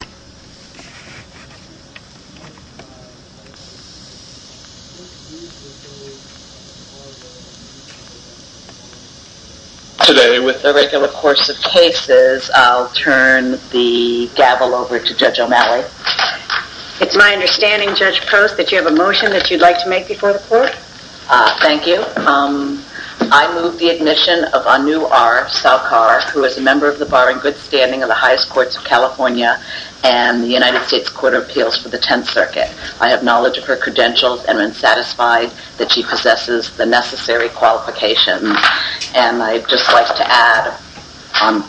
Today, with the regular course of cases, I'll turn the gavel over to Judge O'Malley. It's my understanding, Judge Post, that you have a motion that you'd like to make before the court. Thank you. I move the admission of Anu R. Salkar, who is a member of the bar in good standing of the highest courts of California and the United States Court of Appeals for the Tenth Circuit. I have knowledge of her credentials and am satisfied that she possesses the necessary qualifications. And I'd just like to add on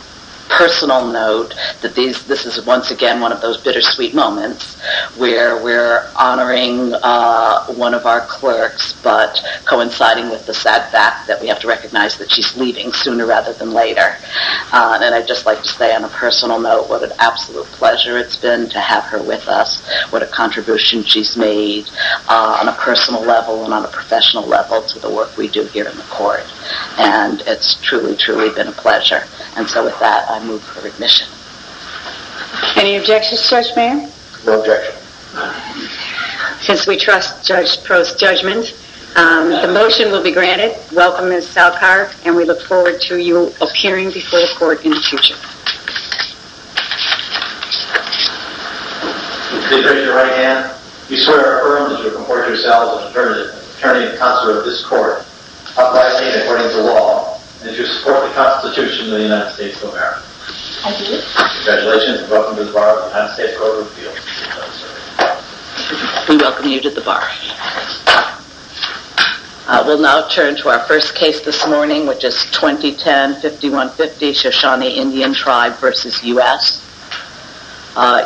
personal note that this is once again one of those bittersweet moments where we're honoring one of our clerks, but coinciding with the sad fact that we have to recognize that she's leaving sooner rather than later. And I'd just like to say on a personal note what an absolute pleasure it's been to have her with us, what a contribution she's made on a personal level and on a professional level to the work we do here in the court. And it's truly, truly been a pleasure. And so with that, I move her admission. Any objections, Judge Mayer? No objections. Since we trust Judge Post's judgment, the motion will be granted. Welcome, Ms. Salkar, and we look forward to you appearing before the court in the future. With the appreciation of your right hand, we swear and affirm that you will comport yourself as an attorney and counselor of this court, upholding and abiding by the law, and to support the Constitution of the United States of America. I do. Congratulations, and welcome to the Bar of the United States Court of Appeals. Thank you, Counselor. We welcome you to the Bar. We'll now turn to our first case this morning, which is 2010-5150, Shoshone Indian Tribe v. U.S.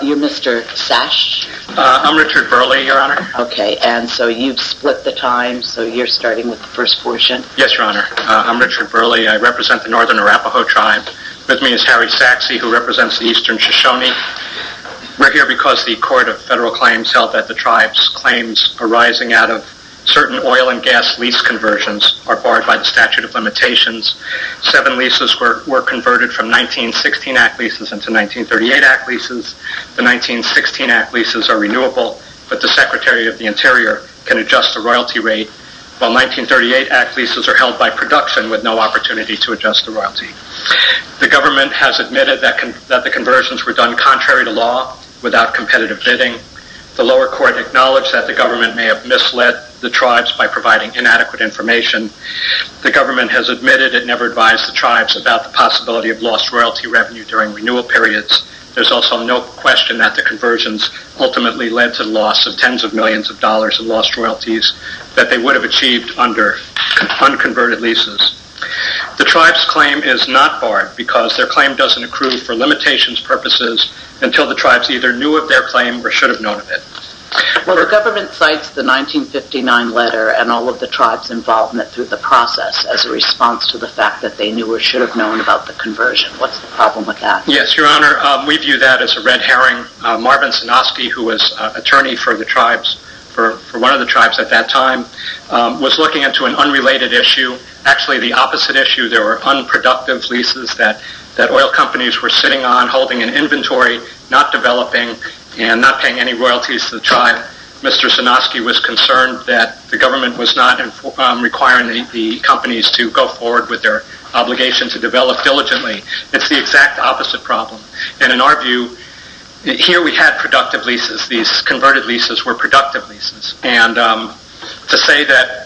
You're Mr. Sash? I'm Richard Burley, Your Honor. Okay, and so you've split the time, so you're starting with the first portion. Yes, Your Honor. I'm Richard Burley. I represent the Northern Arapaho Tribe. With me is Harry Saxe, who represents the Eastern Shoshone. We're here because the Court of Federal Claims held that the tribe's claims arising out of certain oil and gas lease conversions are barred by the statute of limitations. Seven leases were converted from 1916 Act leases into 1938 Act leases. The 1916 Act leases are renewable, but the Secretary of the Interior can adjust the royalty rate, while 1938 Act leases are held by production with no opportunity to adjust the royalty. The government has admitted that the conversions were done contrary to law, without competitive bidding. The lower court acknowledged that the government may have misled the tribes by providing inadequate information. The government has admitted it never advised the tribes about the possibility of lost royalty revenue during renewal periods. There's also no question that the conversions ultimately led to the loss of tens of millions of dollars in lost royalties that they would have achieved under unconverted leases. The tribe's claim is not barred because their claim doesn't accrue for limitations purposes until the tribes either knew of their claim or should have known of it. Well, the government cites the 1959 letter and all of the tribe's involvement through the process as a response to the fact that they knew or should have known about the conversion. What's the problem with that? Yes, Your Honor. We view that as a red herring. Marvin Sinoski, who was attorney for the tribes, for one of the tribes at that time, was looking into an unrelated issue. Actually, the opposite issue. There were unproductive leases that oil companies were sitting on, holding in inventory, not developing, and not paying any royalties to the tribe. Mr. Sinoski was concerned that the government was not requiring the companies to go forward with their obligation to develop diligently. It's the exact opposite problem. And in our view, here we had productive leases. These converted leases were productive leases. And to say that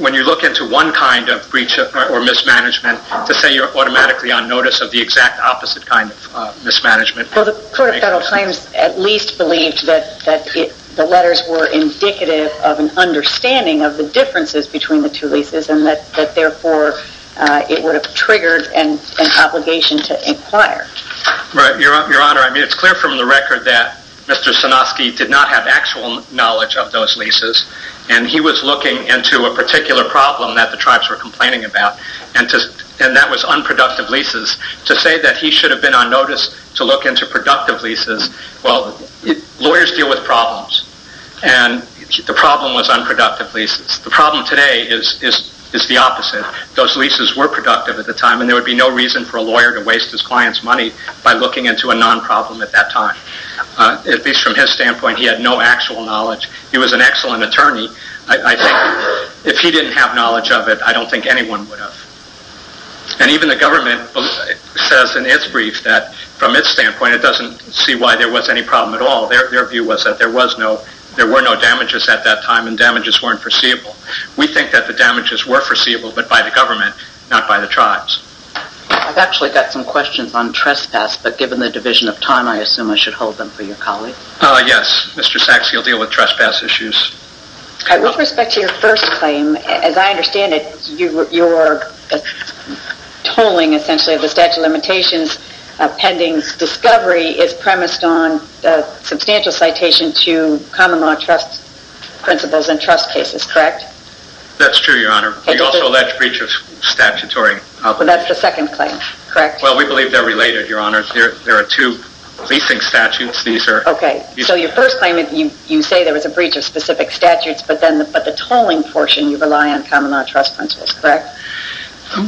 when you look into one kind of breach or mismanagement, to say you're automatically on notice of the exact opposite kind of mismanagement. Well, the Court of Federal Claims at least believed that the letters were indicative of an understanding of the differences between the two leases and that therefore it would have triggered an obligation to inquire. Right. Your Honor, it's clear from the record that Mr. Sinoski did not have actual knowledge of those leases. And he was looking into a particular problem that the tribes were complaining about. And that was unproductive leases. To say that he should have been on notice to look into productive leases. Well, lawyers deal with problems. And the problem was unproductive leases. The problem today is the opposite. Those leases were productive at the time and there would be no reason for a lawyer to waste his client's money by looking into a non-problem at that time. At least from his standpoint, he had no actual knowledge. He was an excellent attorney. If he didn't have knowledge of it, I don't think anyone would have. And even the government says in its brief that from its standpoint it doesn't see why there was any problem at all. Their view was that there were no damages at that time and damages weren't foreseeable. We think that the damages were foreseeable but by the government, not by the tribes. I've actually got some questions on trespass. Given the division of time, I assume I should hold them for your colleague. Yes, Mr. Sachs, you'll deal with trespass issues. With respect to your first claim, as I understand it, your tolling essentially of the statute of limitations pending discovery is premised on substantial citation to common law trust principles and trust cases, correct? That's true, Your Honor. We also allege breach of statutory obligation. That's the second claim, correct? Well, we believe they're related, Your Honor. There are two leasing statutes. So your first claim, you say there was a breach of specific statutes but the tolling portion you rely on common law trust principles, correct?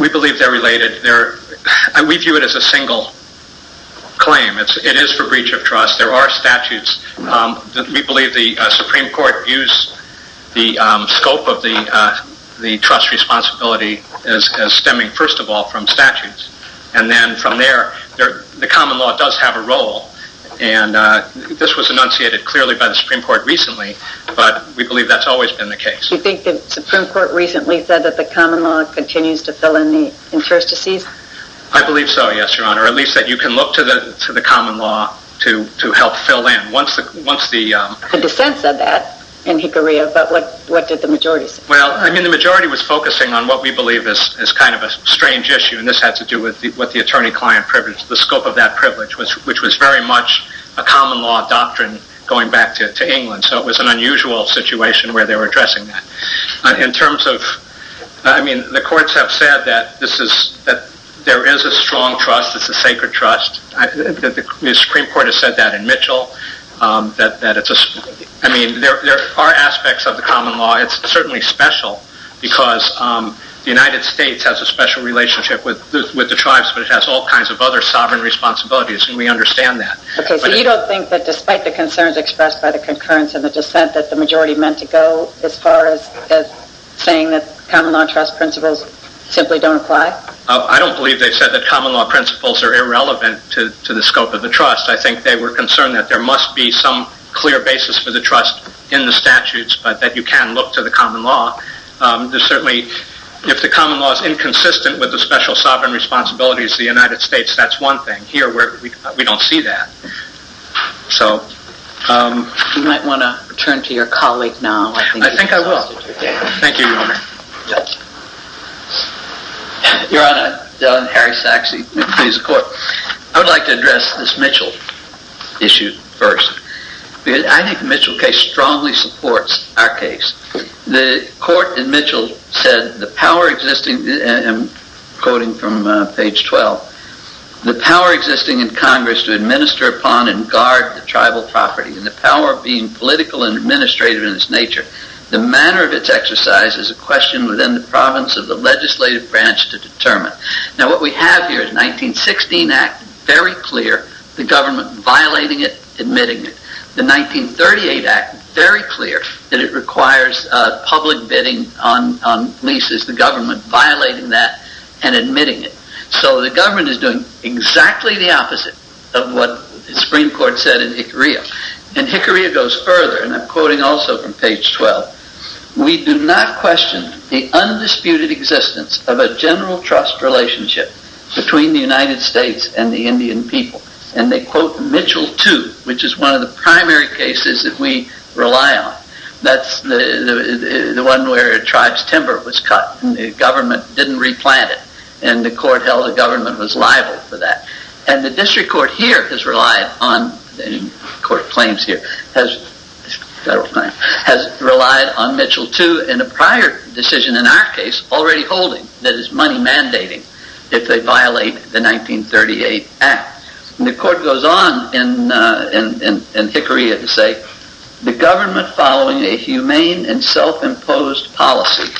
We believe they're related. We view it as a single claim. It is for breach of trust. There are statutes. We believe the Supreme Court views the scope of the trust responsibility as stemming first of all from statutes. And then from there, the common law does have a role. And this was enunciated clearly by the Supreme Court recently, but we believe that's always been the case. Do you think the Supreme Court recently said that the common law continues to fill in the interstices? I believe so, yes, Your Honor. At least that you can look to the common law to help fill in. The dissent said that in Hickory, but what did the majority say? The majority was focusing on what we believe is kind of a strange issue, and this had to do with what the attorney-client privilege, the scope of that privilege, which was very much a common law doctrine going back to England. So it was an unusual situation where they were addressing that. The courts have said that there is a strong trust, it's a sacred trust. The Supreme Court has said that in Mitchell. There are aspects of the common law. It's certainly special because the United States has a special relationship with the tribes, but it has all kinds of other sovereign responsibilities, and we understand that. Okay, so you don't think that despite the concerns expressed by the concurrence and the dissent that the majority meant to go as far as saying that common law trust principles simply don't apply? I don't believe they said that common law principles are irrelevant to the scope of the trust. I think they were concerned that there must be some clear basis for the trust in the statutes, but that you can look to the common law. There's certainly, if the common law is inconsistent with the special sovereign responsibilities of the United States, that's one thing. Here, we don't see that. So, you might want to return to your colleague now. I think I will. Thank you, Your Honor. Your Honor, Dillon Harry Sachse. I would like to address this Mitchell issue first. I think the Mitchell case strongly supports our case. The court in Mitchell said, the power existing, and I'm quoting from page 12, the power existing in Congress to administer upon and guard the tribal property, and the power of being political and administrative in its nature, the manner of its exercise is a question within the province of the legislative branch to determine. Now, what we have here is the 1916 Act, very clear, the government violating it, admitting it. The 1938 Act, very clear, that it requires public bidding on leases, the government violating that and admitting it. So, the government is doing exactly the opposite of what the Supreme Court said in Hickory. And Hickory goes further, and I'm quoting also from page 12. We do not question the undisputed existence of a general trust relationship between the United States and the Indian people. And they quote Mitchell too, which is one of the primary cases that we rely on. That's the one where a tribe's timber was cut and the government didn't replant it. And the court held the government was liable for that. And the district court here has relied on, the court claims here, has relied on Mitchell too in a prior decision in our case, already holding that it's money mandating if they violate the 1938 Act. And the court goes on in Hickory to say, the government following a humane and self-imposed policy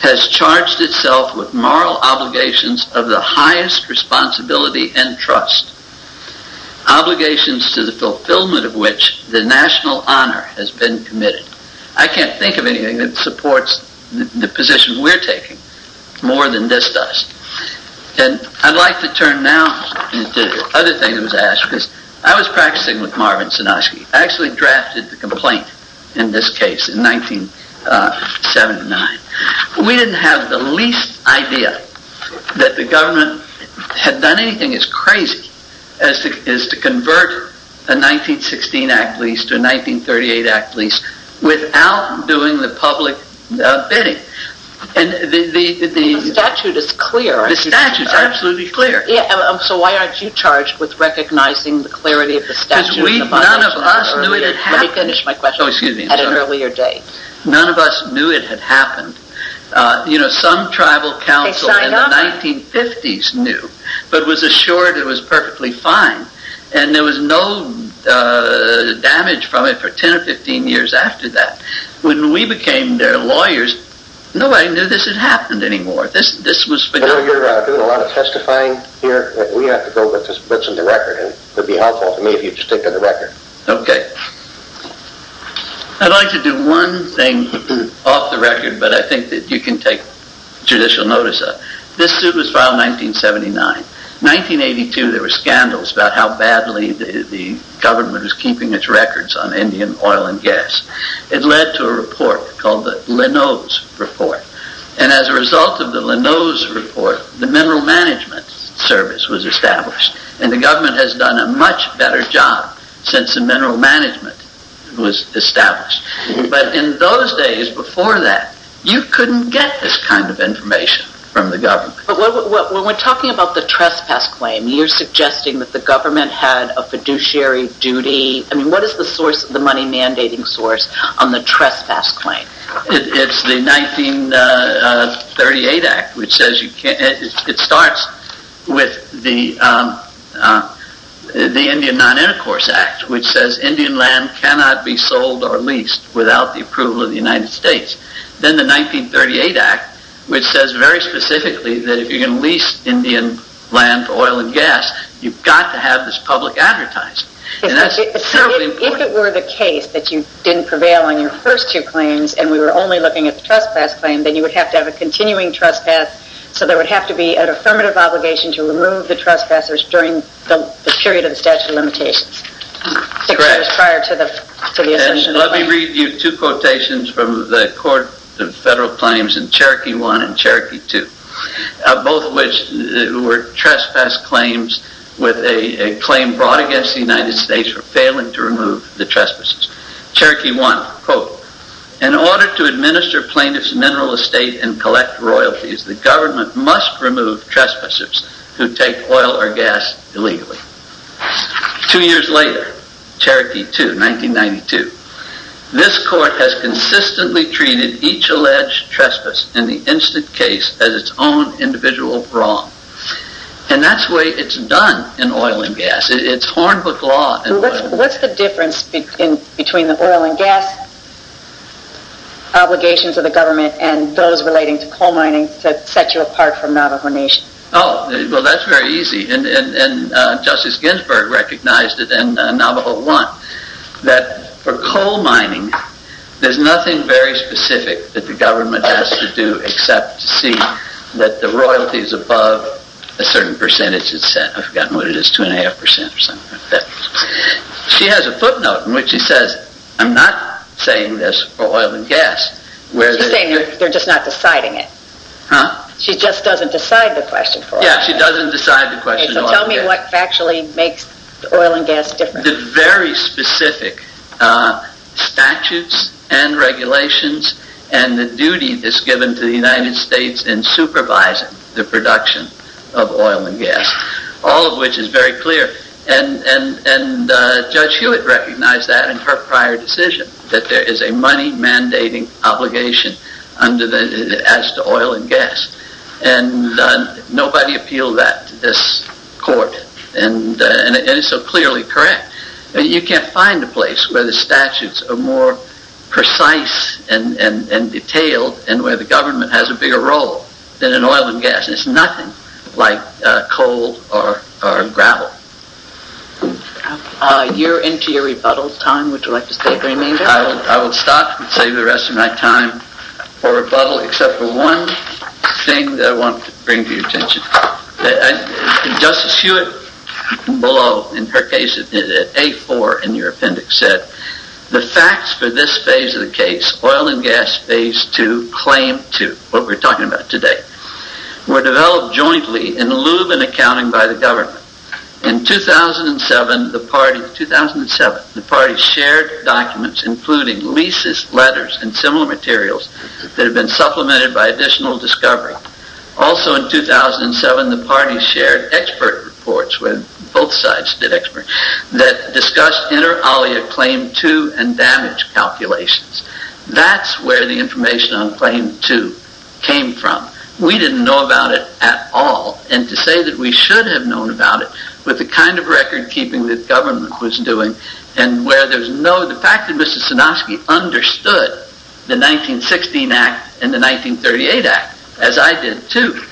has charged itself with moral obligations of the highest responsibility and trust, obligations to the fulfillment of which the national honor has been committed. I can't think of anything that supports the position we're taking more than this does. And I'd like to turn now to the other thing that was asked, because I was practicing with Marvin Sinoshki. I actually drafted the complaint in this case in 1979. We didn't have the least idea that the government had done anything as crazy as to convert a 1916 Act lease to a 1938 Act lease without doing the public bidding. And the statute is clear. The statute is absolutely clear. So why aren't you charged with recognizing the clarity of the statute? Because none of us knew it had happened. Let me finish my question at an earlier date. None of us knew it had happened. You know, some tribal council in the 1950s knew, but was assured it was perfectly fine. And there was no damage from it for 10 or 15 years after that. When we became their lawyers, nobody knew this had happened anymore. This was... I know you're doing a lot of testifying here, but we have to go with just bits of the record, and it would be helpful to me if you'd stick to the record. Okay. I'd like to do one thing off the record, but I think that you can take judicial notice of. This suit was filed in 1979. 1982, there were scandals about how badly the government was keeping its records on Indian oil and gas. It led to a report called the Linode Report. And as a result of the Linode Report, the Mineral Management Service was established. And the government has done a much better job since the mineral management was established. But in those days before that, you couldn't get this kind of information from the government. When we're talking about the trespass claim, you're suggesting that the government had a fiduciary duty. I mean, what is the money mandating source on the trespass claim? It's the 1938 Act, which says you can't... It starts with the Indian Non-Intercourse Act, which says Indian land cannot be sold or leased without the approval of the United States. Then the 1938 Act, which says very specifically that if you're going to lease Indian land for oil and gas, you've got to have this public advertising. And that's terribly important. If it were the case that you didn't prevail on your first two claims and we were only looking at the trespass claim, then you would have to have a continuing trespass. So there would have to be an affirmative obligation to remove the trespassers during the period of the statute of limitations, six years prior to the assertion of the claim. Let me read you two quotations from the Court of Federal Claims in Cherokee I and Cherokee II, both of which were trespass claims with a claim brought against the United States for failing to remove the trespassers. Cherokee I, quote, In order to administer plaintiffs' mineral estate and collect royalties, the government must remove trespassers who take oil or gas illegally. Two years later, Cherokee II, 1992, this court has consistently treated each alleged trespass in the instant case as its own individual wrong. And that's the way it's done in oil and gas. It's horned with law in oil and gas. What's the difference between the oil and gas obligations of the government and those relating to coal mining that set you apart from Navajo Nation? Oh, well, that's very easy. And Justice Ginsburg recognized it in Navajo I that for coal mining, there's nothing very specific that the government has to do except to see that the royalties above a certain percentage, I've forgotten what it is, 2.5% or something like that. She has a footnote in which she says, I'm not saying this for oil and gas. She's saying they're just not deciding it. Huh? She just doesn't decide the question for oil and gas. Yeah, she doesn't decide the question for oil and gas. So tell me what actually makes oil and gas different. The very specific statutes and regulations and the duty that's given to the United States in supervising the production of oil and gas. All of which is very clear. And Judge Hewitt recognized that in her prior decision that there is a money mandating obligation as to oil and gas. And nobody appealed that to this court. And it's so clearly correct. You can't find a place where the statutes are more precise and detailed and where the government has a bigger role than in oil and gas. It's nothing like coal or gravel. You're into your rebuttal time. Would you like to say the remainder? I will stop and save the rest of my time for rebuttal except for one thing that I want to bring to your attention. Justice Hewitt, below in her case, in A4 in your appendix said, the facts for this phase of the case, oil and gas phase 2, claim 2, what we're talking about today, were developed jointly in lieu of an accounting by the government. In 2007, the party shared documents including leases, letters, and similar materials that have been supplemented by additional discovery. Also in 2007, the party shared expert reports where both sides did experts that discussed inter alia claim 2 and damage calculations. That's where the information on claim 2 came from. We didn't know about it at all. And to say that we should have known about it with the kind of record keeping that government was doing and where there's no, the fact that Mr. Sinofsky understood the 1916 Act and the 1938 Act, as I did too,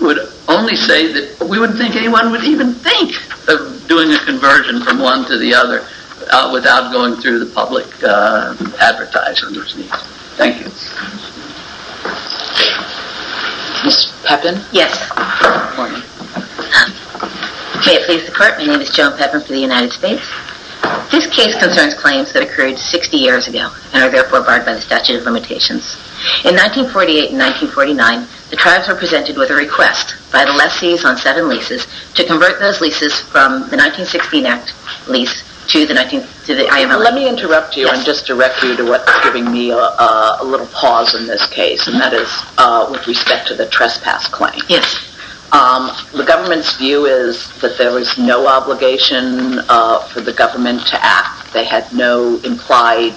would only say that we wouldn't think anyone would even think of doing a conversion from one to the other without going through the public advertise underneath. Thank you. Ms. Pepin? Yes. May it please the court, my name is Joan Pepin for the United States. This case concerns claims that occurred 60 years ago and are therefore barred by the statute of limitations. In 1948 and 1949, the tribes were presented with a request by the lessees on set and leases to convert those leases from the 1916 Act lease to the IML Act. Let me interrupt you and just direct you to what's giving me a little pause in this case and that is with respect to the trespass claim. Yes. The government's view is that there is no obligation for the government to act. They had no implied,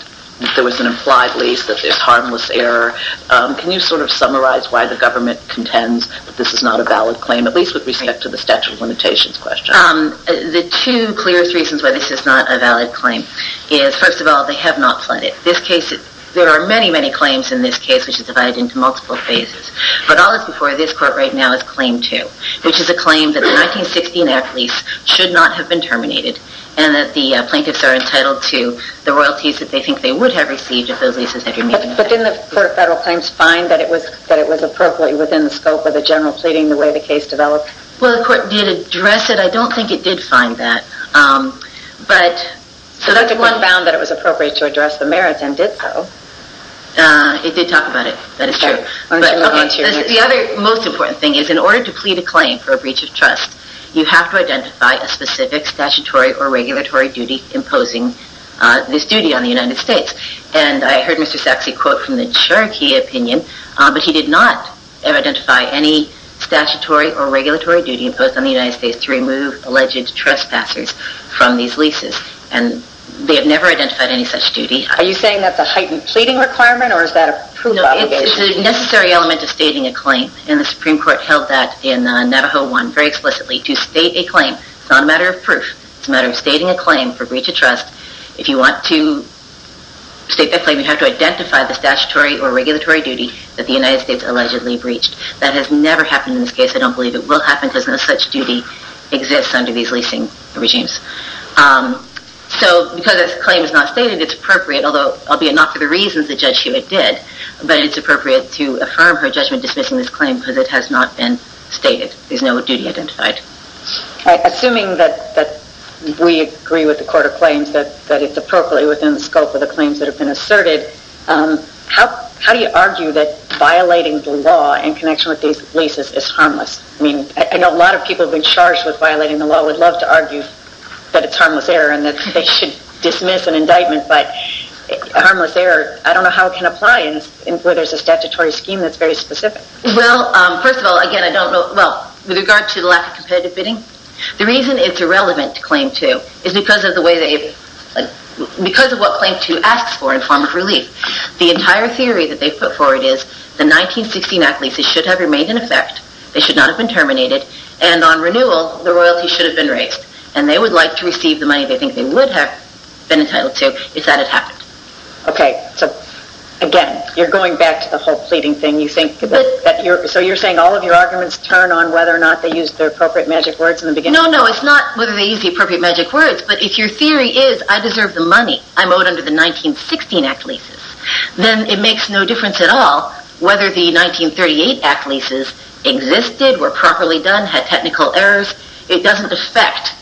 there was an implied lease that there's harmless error. Can you sort of summarize why the government contends that this is not a valid claim, at least with respect to the statute of limitations question? The two clearest reasons why this is not a valid claim is, first of all, they have not fled it. This case, there are many, many claims in this case, which is divided into multiple phases. But all that's before this court right now is Claim 2, which is a claim that the 1916 Act lease should not have been terminated and that the plaintiffs are entitled to the royalties that they think they would have received if those leases had remained in effect. But didn't the Court of Federal Claims find that it was appropriate within the scope of the general pleading the way the case developed? Well, the court did address it. I don't think it did find that. So that's a good bound that it was appropriate to address the merits and did so. It did talk about it. That is true. The other most important thing is in order to plead a claim for a breach of trust, you have to identify a specific statutory or regulatory duty imposing this duty on the United States. And I heard Mr. Sachse quote from the Cherokee opinion, but he did not identify any statutory or regulatory duty imposed on the United States to remove alleged trespassers from these leases. And they have never identified any such duty. Are you saying that's a heightened pleading requirement or is that a proof obligation? No, it's a necessary element of stating a claim. And the Supreme Court held that in Navajo 1 very explicitly to state a claim. It's not a matter of proof. It's a matter of stating a claim for breach of trust. If you want to state that claim, you have to identify the statutory or regulatory duty that the United States allegedly breached. That has never happened in this case. I don't believe it will happen because no such duty exists under these leasing regimes. So because this claim is not stated, it's appropriate, although, albeit not for the reasons that Judge Hewitt did, but it's appropriate to affirm her judgment dismissing this claim because it has not been stated. There's no duty identified. Assuming that we agree with the Court of Claims that it's appropriately within the scope of the claims that have been asserted, how do you argue that violating the law in connection with these leases is harmless? I mean, I know a lot of people have been charged with violating the law. I would love to argue that it's harmless error and that they should dismiss an indictment, but harmless error, I don't know how it can apply where there's a statutory scheme that's very specific. Well, first of all, again, I don't know. With regard to the lack of competitive bidding, the reason it's irrelevant to Claim 2 is because of what Claim 2 asks for in form of relief. The entire theory that they put forward is the 1916 Act leases should have remained in effect, they should not have been terminated, and on renewal, the royalty should have been raised. And they would like to receive the money they think they would have been entitled to if that had happened. Okay. So, again, you're going back to the whole pleading thing. So you're saying all of your arguments turn on whether or not they used the appropriate magic words in the beginning? No, no, it's not whether they used the appropriate magic words, but if your theory is, I deserve the money, I'm owed under the 1916 Act leases, then it makes no difference at all whether the 1938 Act leases existed, were properly done, had technical errors. It doesn't affect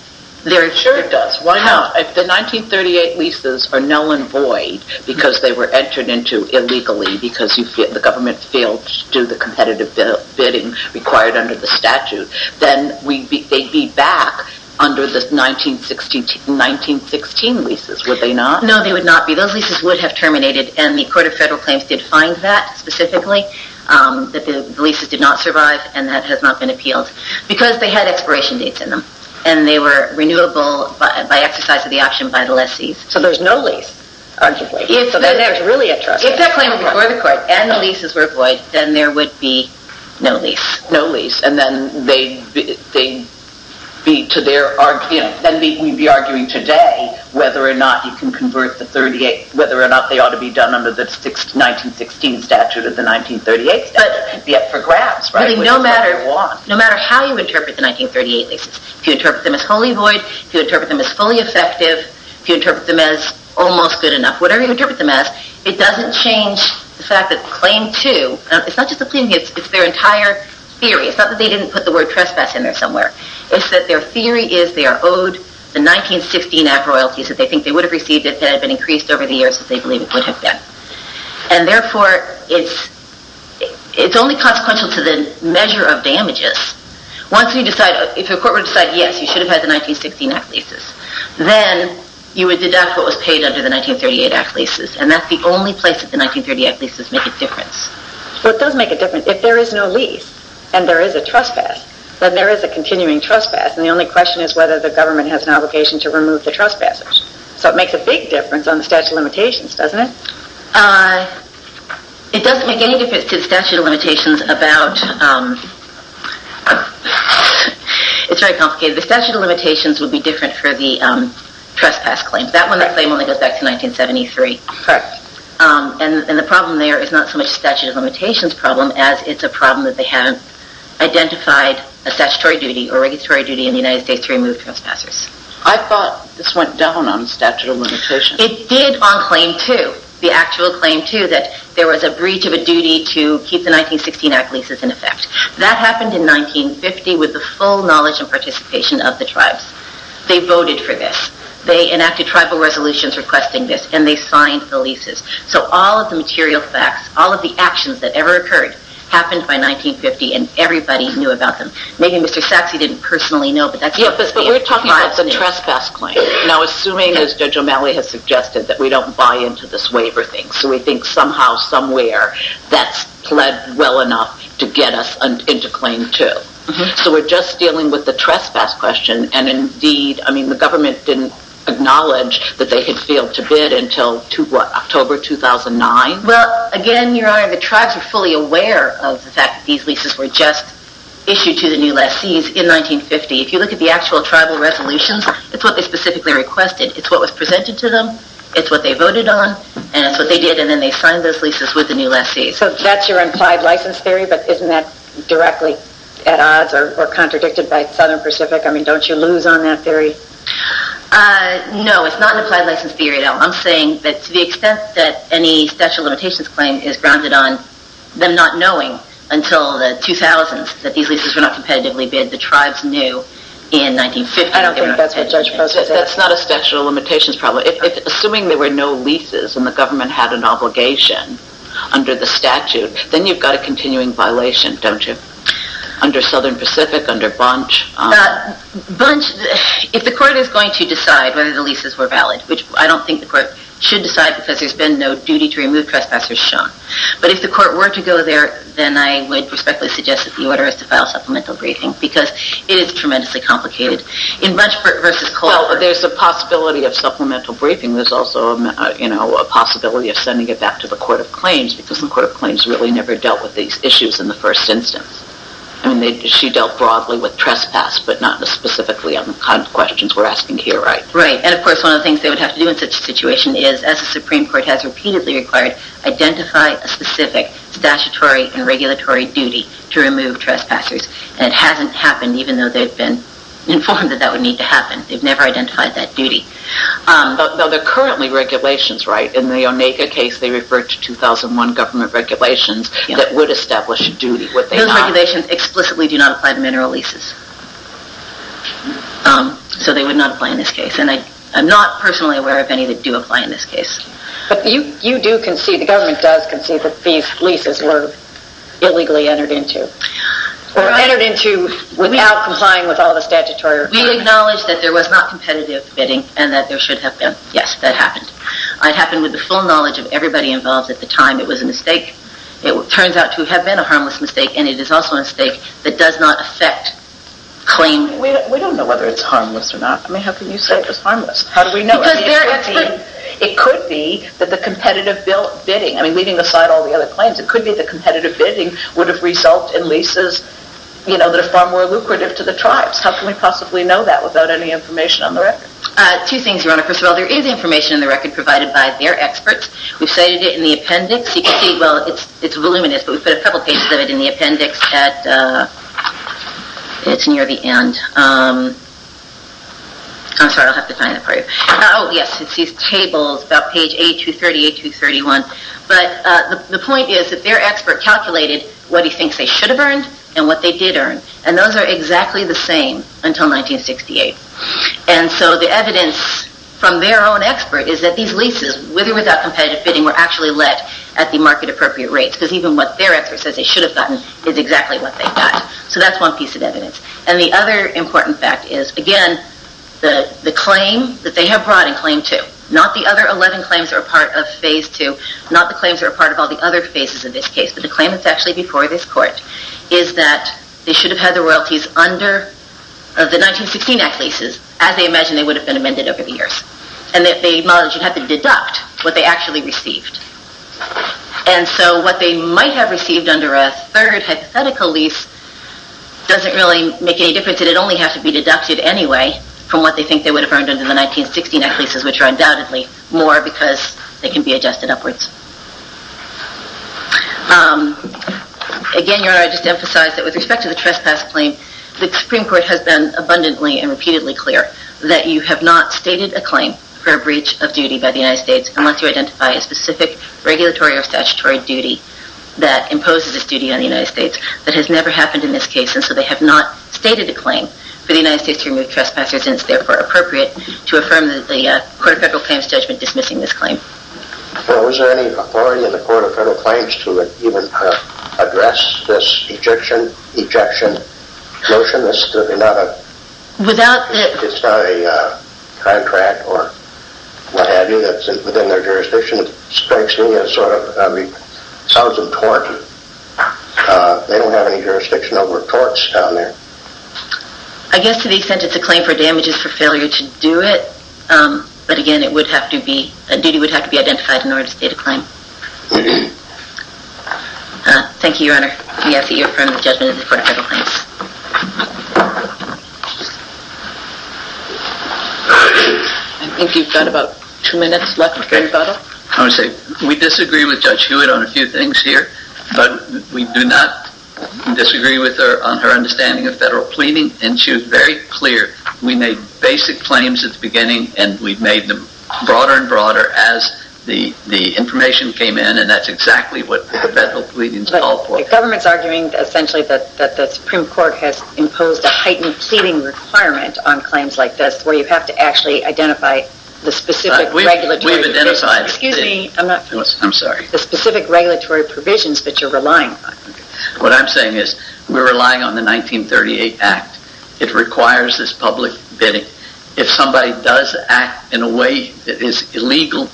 their... Sure it does. Why not? If the 1938 leases are null and void because they were entered into illegally because the government failed to do the competitive bidding required under the statute, then they'd be back under the 1916 leases, would they not? No, they would not be. Those leases would have terminated, and the Court of Federal Claims did find that specifically, that the leases did not survive, and that has not been appealed, because they had expiration dates in them, and they were renewable by exercise of the option by the lessees. So there's no lease, arguably. So that's really a trust. If that claim was before the Court, and the leases were void, then there would be no lease. No lease. And then we'd be arguing today whether or not they ought to be done under the 1916 statute or the 1938 statute. It'd be up for grabs, right? No matter how you interpret the 1938 leases, if you interpret them as wholly void, if you interpret them as fully effective, if you interpret them as almost good enough, it doesn't change the fact that Claim 2, it's not just the claim, it's their entire theory. It's not that they didn't put the word trespass in there somewhere. It's that their theory is they are owed the 1916 Act royalties that they think they would have received if it had been increased over the years, that they believe it would have been. And therefore, it's only consequential to the measure of damages. Once you decide, if the Court would have decided, yes, you should have had the 1916 Act leases, then you would deduct what was paid under the 1938 Act leases. And that's the only place that the 1938 Act leases make a difference. Well, it does make a difference. If there is no lease and there is a trespass, then there is a continuing trespass. And the only question is whether the government has an obligation to remove the trespassers. So it makes a big difference on the statute of limitations, doesn't it? It doesn't make any difference to the statute of limitations about... It's very complicated. The statute of limitations would be different for the trespass claims. That one only goes back to 1973. And the problem there is not so much a statute of limitations problem, as it's a problem that they haven't identified a statutory duty or a regulatory duty in the United States to remove trespassers. I thought this went down on the statute of limitations. It did on Claim 2, the actual Claim 2, that there was a breach of a duty to keep the 1916 Act leases in effect. That happened in 1950 with the full knowledge and participation of the tribes. They voted for this. They enacted tribal resolutions requesting this. And they signed the leases. So all of the material facts, all of the actions that ever occurred, happened by 1950 and everybody knew about them. Maybe Mr. Sachse didn't personally know, but that's what the tribes knew. Yeah, but we're talking about the trespass claim. Now, assuming, as Judge O'Malley has suggested, that we don't buy into this waiver thing. So we think somehow, somewhere, that's pled well enough to get us into Claim 2. So we're just dealing with the trespass question. And indeed, I mean, the government didn't acknowledge that they had failed to bid until, what, October 2009? Well, again, Your Honor, the tribes were fully aware of the fact that these leases were just issued to the new lessees in 1950. If you look at the actual tribal resolutions, it's what they specifically requested. It's what was presented to them. It's what they voted on. And it's what they did. And then they signed those leases with the new lessees. So that's your implied license theory, but isn't that directly at odds or contradicted by Southern Pacific? I mean, don't you lose on that theory? No, it's not an implied license theory at all. I'm saying that to the extent that any Statute of Limitations claim is grounded on them not knowing until the 2000s that these leases were not competitively bid, the tribes knew in 1950. I don't think that's what Judge Post has said. That's not a Statute of Limitations problem. Assuming there were no leases and the government had an obligation under the statute, then you've got a continuing violation, don't you? Under Southern Pacific, under Bunch. Bunch, if the court is going to decide whether the leases were valid, which I don't think the court should decide because there's been no duty to remove trespassers shown. But if the court were to go there, then I would respectfully suggest that the order is to file a supplemental briefing because it is tremendously complicated. In Bunch v. Culver... Well, there's a possibility of supplemental briefing. There's also a possibility of sending it back to the Court of Claims because the Court of Claims really never dealt with these issues in the first instance. I mean, she dealt broadly with trespass but not specifically on the kind of questions we're asking here, right? Right. And of course, one of the things they would have to do in such a situation is, as the Supreme Court has repeatedly required, identify a specific statutory and regulatory duty to remove trespassers. And it hasn't happened even though they've been informed that that would need to happen. They've never identified that duty. Though they're currently regulations, right? In the Onega case, they referred to 2001 government regulations that would establish a duty. Those regulations explicitly do not apply to mineral leases. So they would not apply in this case. And I'm not personally aware of any that do apply in this case. But you do concede, the government does concede, that these leases were illegally entered into. Or entered into without complying with all the statutory requirements. We acknowledge that there was not competitive bidding and that there should have been. Yes, that happened. It happened with the full knowledge of everybody involved at the time. It was a mistake. It turns out to have been a harmless mistake and it is also a mistake that does not affect claiming. We don't know whether it's harmless or not. I mean, how can you say it was harmless? How do we know? Because there... It could be that the competitive bidding, I mean, leaving aside all the other claims, it could be the competitive bidding would have resulted in leases that are far more lucrative to the tribes. How can we possibly know that without any information on the record? Two things, Your Honor. First of all, there is information on the record provided by their experts. We've cited it in the appendix. You can see, well, it's voluminous, but we've put a couple pages of it in the appendix at... It's near the end. I'm sorry, I'll have to find it for you. Oh, yes, it's these tables about page A230, A231. But the point is that their expert calculated what he thinks they should have earned and what they did earn. And those are exactly the same until 1968. And so the evidence from their own expert is that these leases, whether without competitive bidding, were actually let at the market-appropriate rates. Because even what their expert says they should have gotten is exactly what they've got. So that's one piece of evidence. And the other important fact is, again, the claim that they have brought in claim two, not the other 11 claims that are part of phase two, not the claims that are part of all the other phases of this case, but the claim that's actually before this court, is that they should have had their royalties under the 1916 Act leases, as they imagined they would have been amended over the years. And that they might have had to deduct what they actually received. And so what they might have received under a third hypothetical lease doesn't really make any difference. It only has to be deducted anyway from what they think they would have earned in the 1916 Act leases, which are undoubtedly more, because they can be adjusted upwards. Again, Your Honor, I'd just emphasize that with respect to the trespass claim, the Supreme Court has been abundantly and repeatedly clear that you have not stated a claim for a breach of duty by the United States, unless you identify a specific regulatory or statutory duty that imposes this duty on the United States. That has never happened in this case, and so they have not stated a claim for the United States to remove trespassers, which is, for instance, therefore appropriate to affirm the Court of Federal Claims judgment dismissing this claim. Well, is there any authority in the Court of Federal Claims to even address this ejection motion? This could be not a... It's not a contract or what have you that's within their jurisdiction. It strikes me as sort of... I mean, it sounds untoward. They don't have any jurisdiction over torts down there. I guess to the extent it's a claim for damages for failure to do it, but, again, it would have to be... A duty would have to be identified in order to state a claim. Thank you, Your Honor. We ask that you affirm the judgment of the Court of Federal Claims. I think you've got about two minutes left. I want to say we disagree with Judge Hewitt on a few things here, but we do not disagree with her on her understanding of federal pleading. And she was very clear. We made basic claims at the beginning and we've made them broader and broader as the information came in and that's exactly what the federal pleadings call for. But the government's arguing, essentially, that the Supreme Court has imposed a heightened pleading requirement on claims like this where you have to actually identify the specific regulatory... We've identified... Excuse me. I'm not... I'm sorry. ...the specific regulatory provisions that you're relying on. What I'm saying is we're relying on the 1938 Act. It requires this public bidding. If somebody does act in a way that is illegal,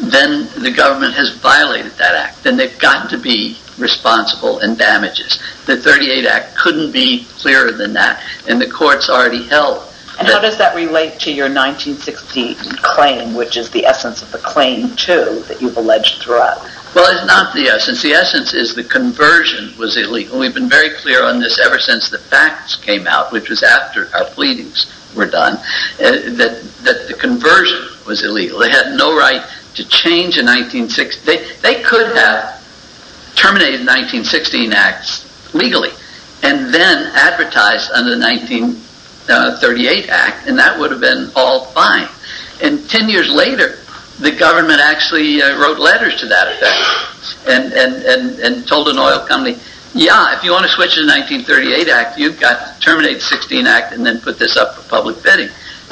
then the government has violated that act and they've got to be responsible in damages. The 1938 Act couldn't be clearer than that and the Court's already held that... And how does that relate to your 1960 claim which is the essence of the claim, too, that you've alleged throughout? Well, it's not the essence. The essence is the conversion was illegal. We've been very clear on this ever since the facts came out, which was after our pleadings were done, that the conversion was illegal. They had no right to change a 1960... They could have terminated the 1916 Act legally and then advertised under the 1938 Act and that would have been all fine. And ten years later, the government actually wrote letters to that effect and told an oil company, yeah, if you want to switch the 1938 Act, you've got to terminate the 1916 Act and then put this up for public bidding.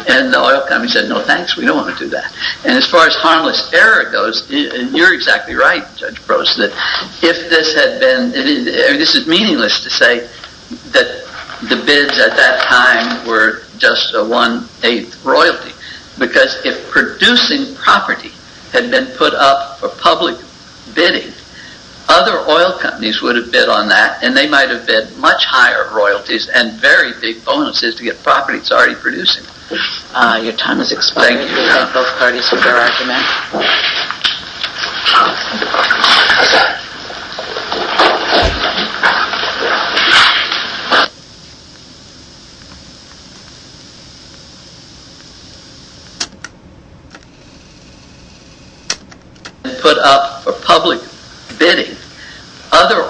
And the oil company said, no thanks, we don't want to do that. And as far as harmless error goes, and you're exactly right, Judge Brose, that if this had been... This is meaningless to say that the bids at that time were just a one-eighth royalty because if producing property had been put up for public bidding, other oil companies would have bid on that and they might have bid much higher royalties and very big bonuses to get property that's already producing. Your time has expired. Thank you. Both parties for their arguments. Thank you.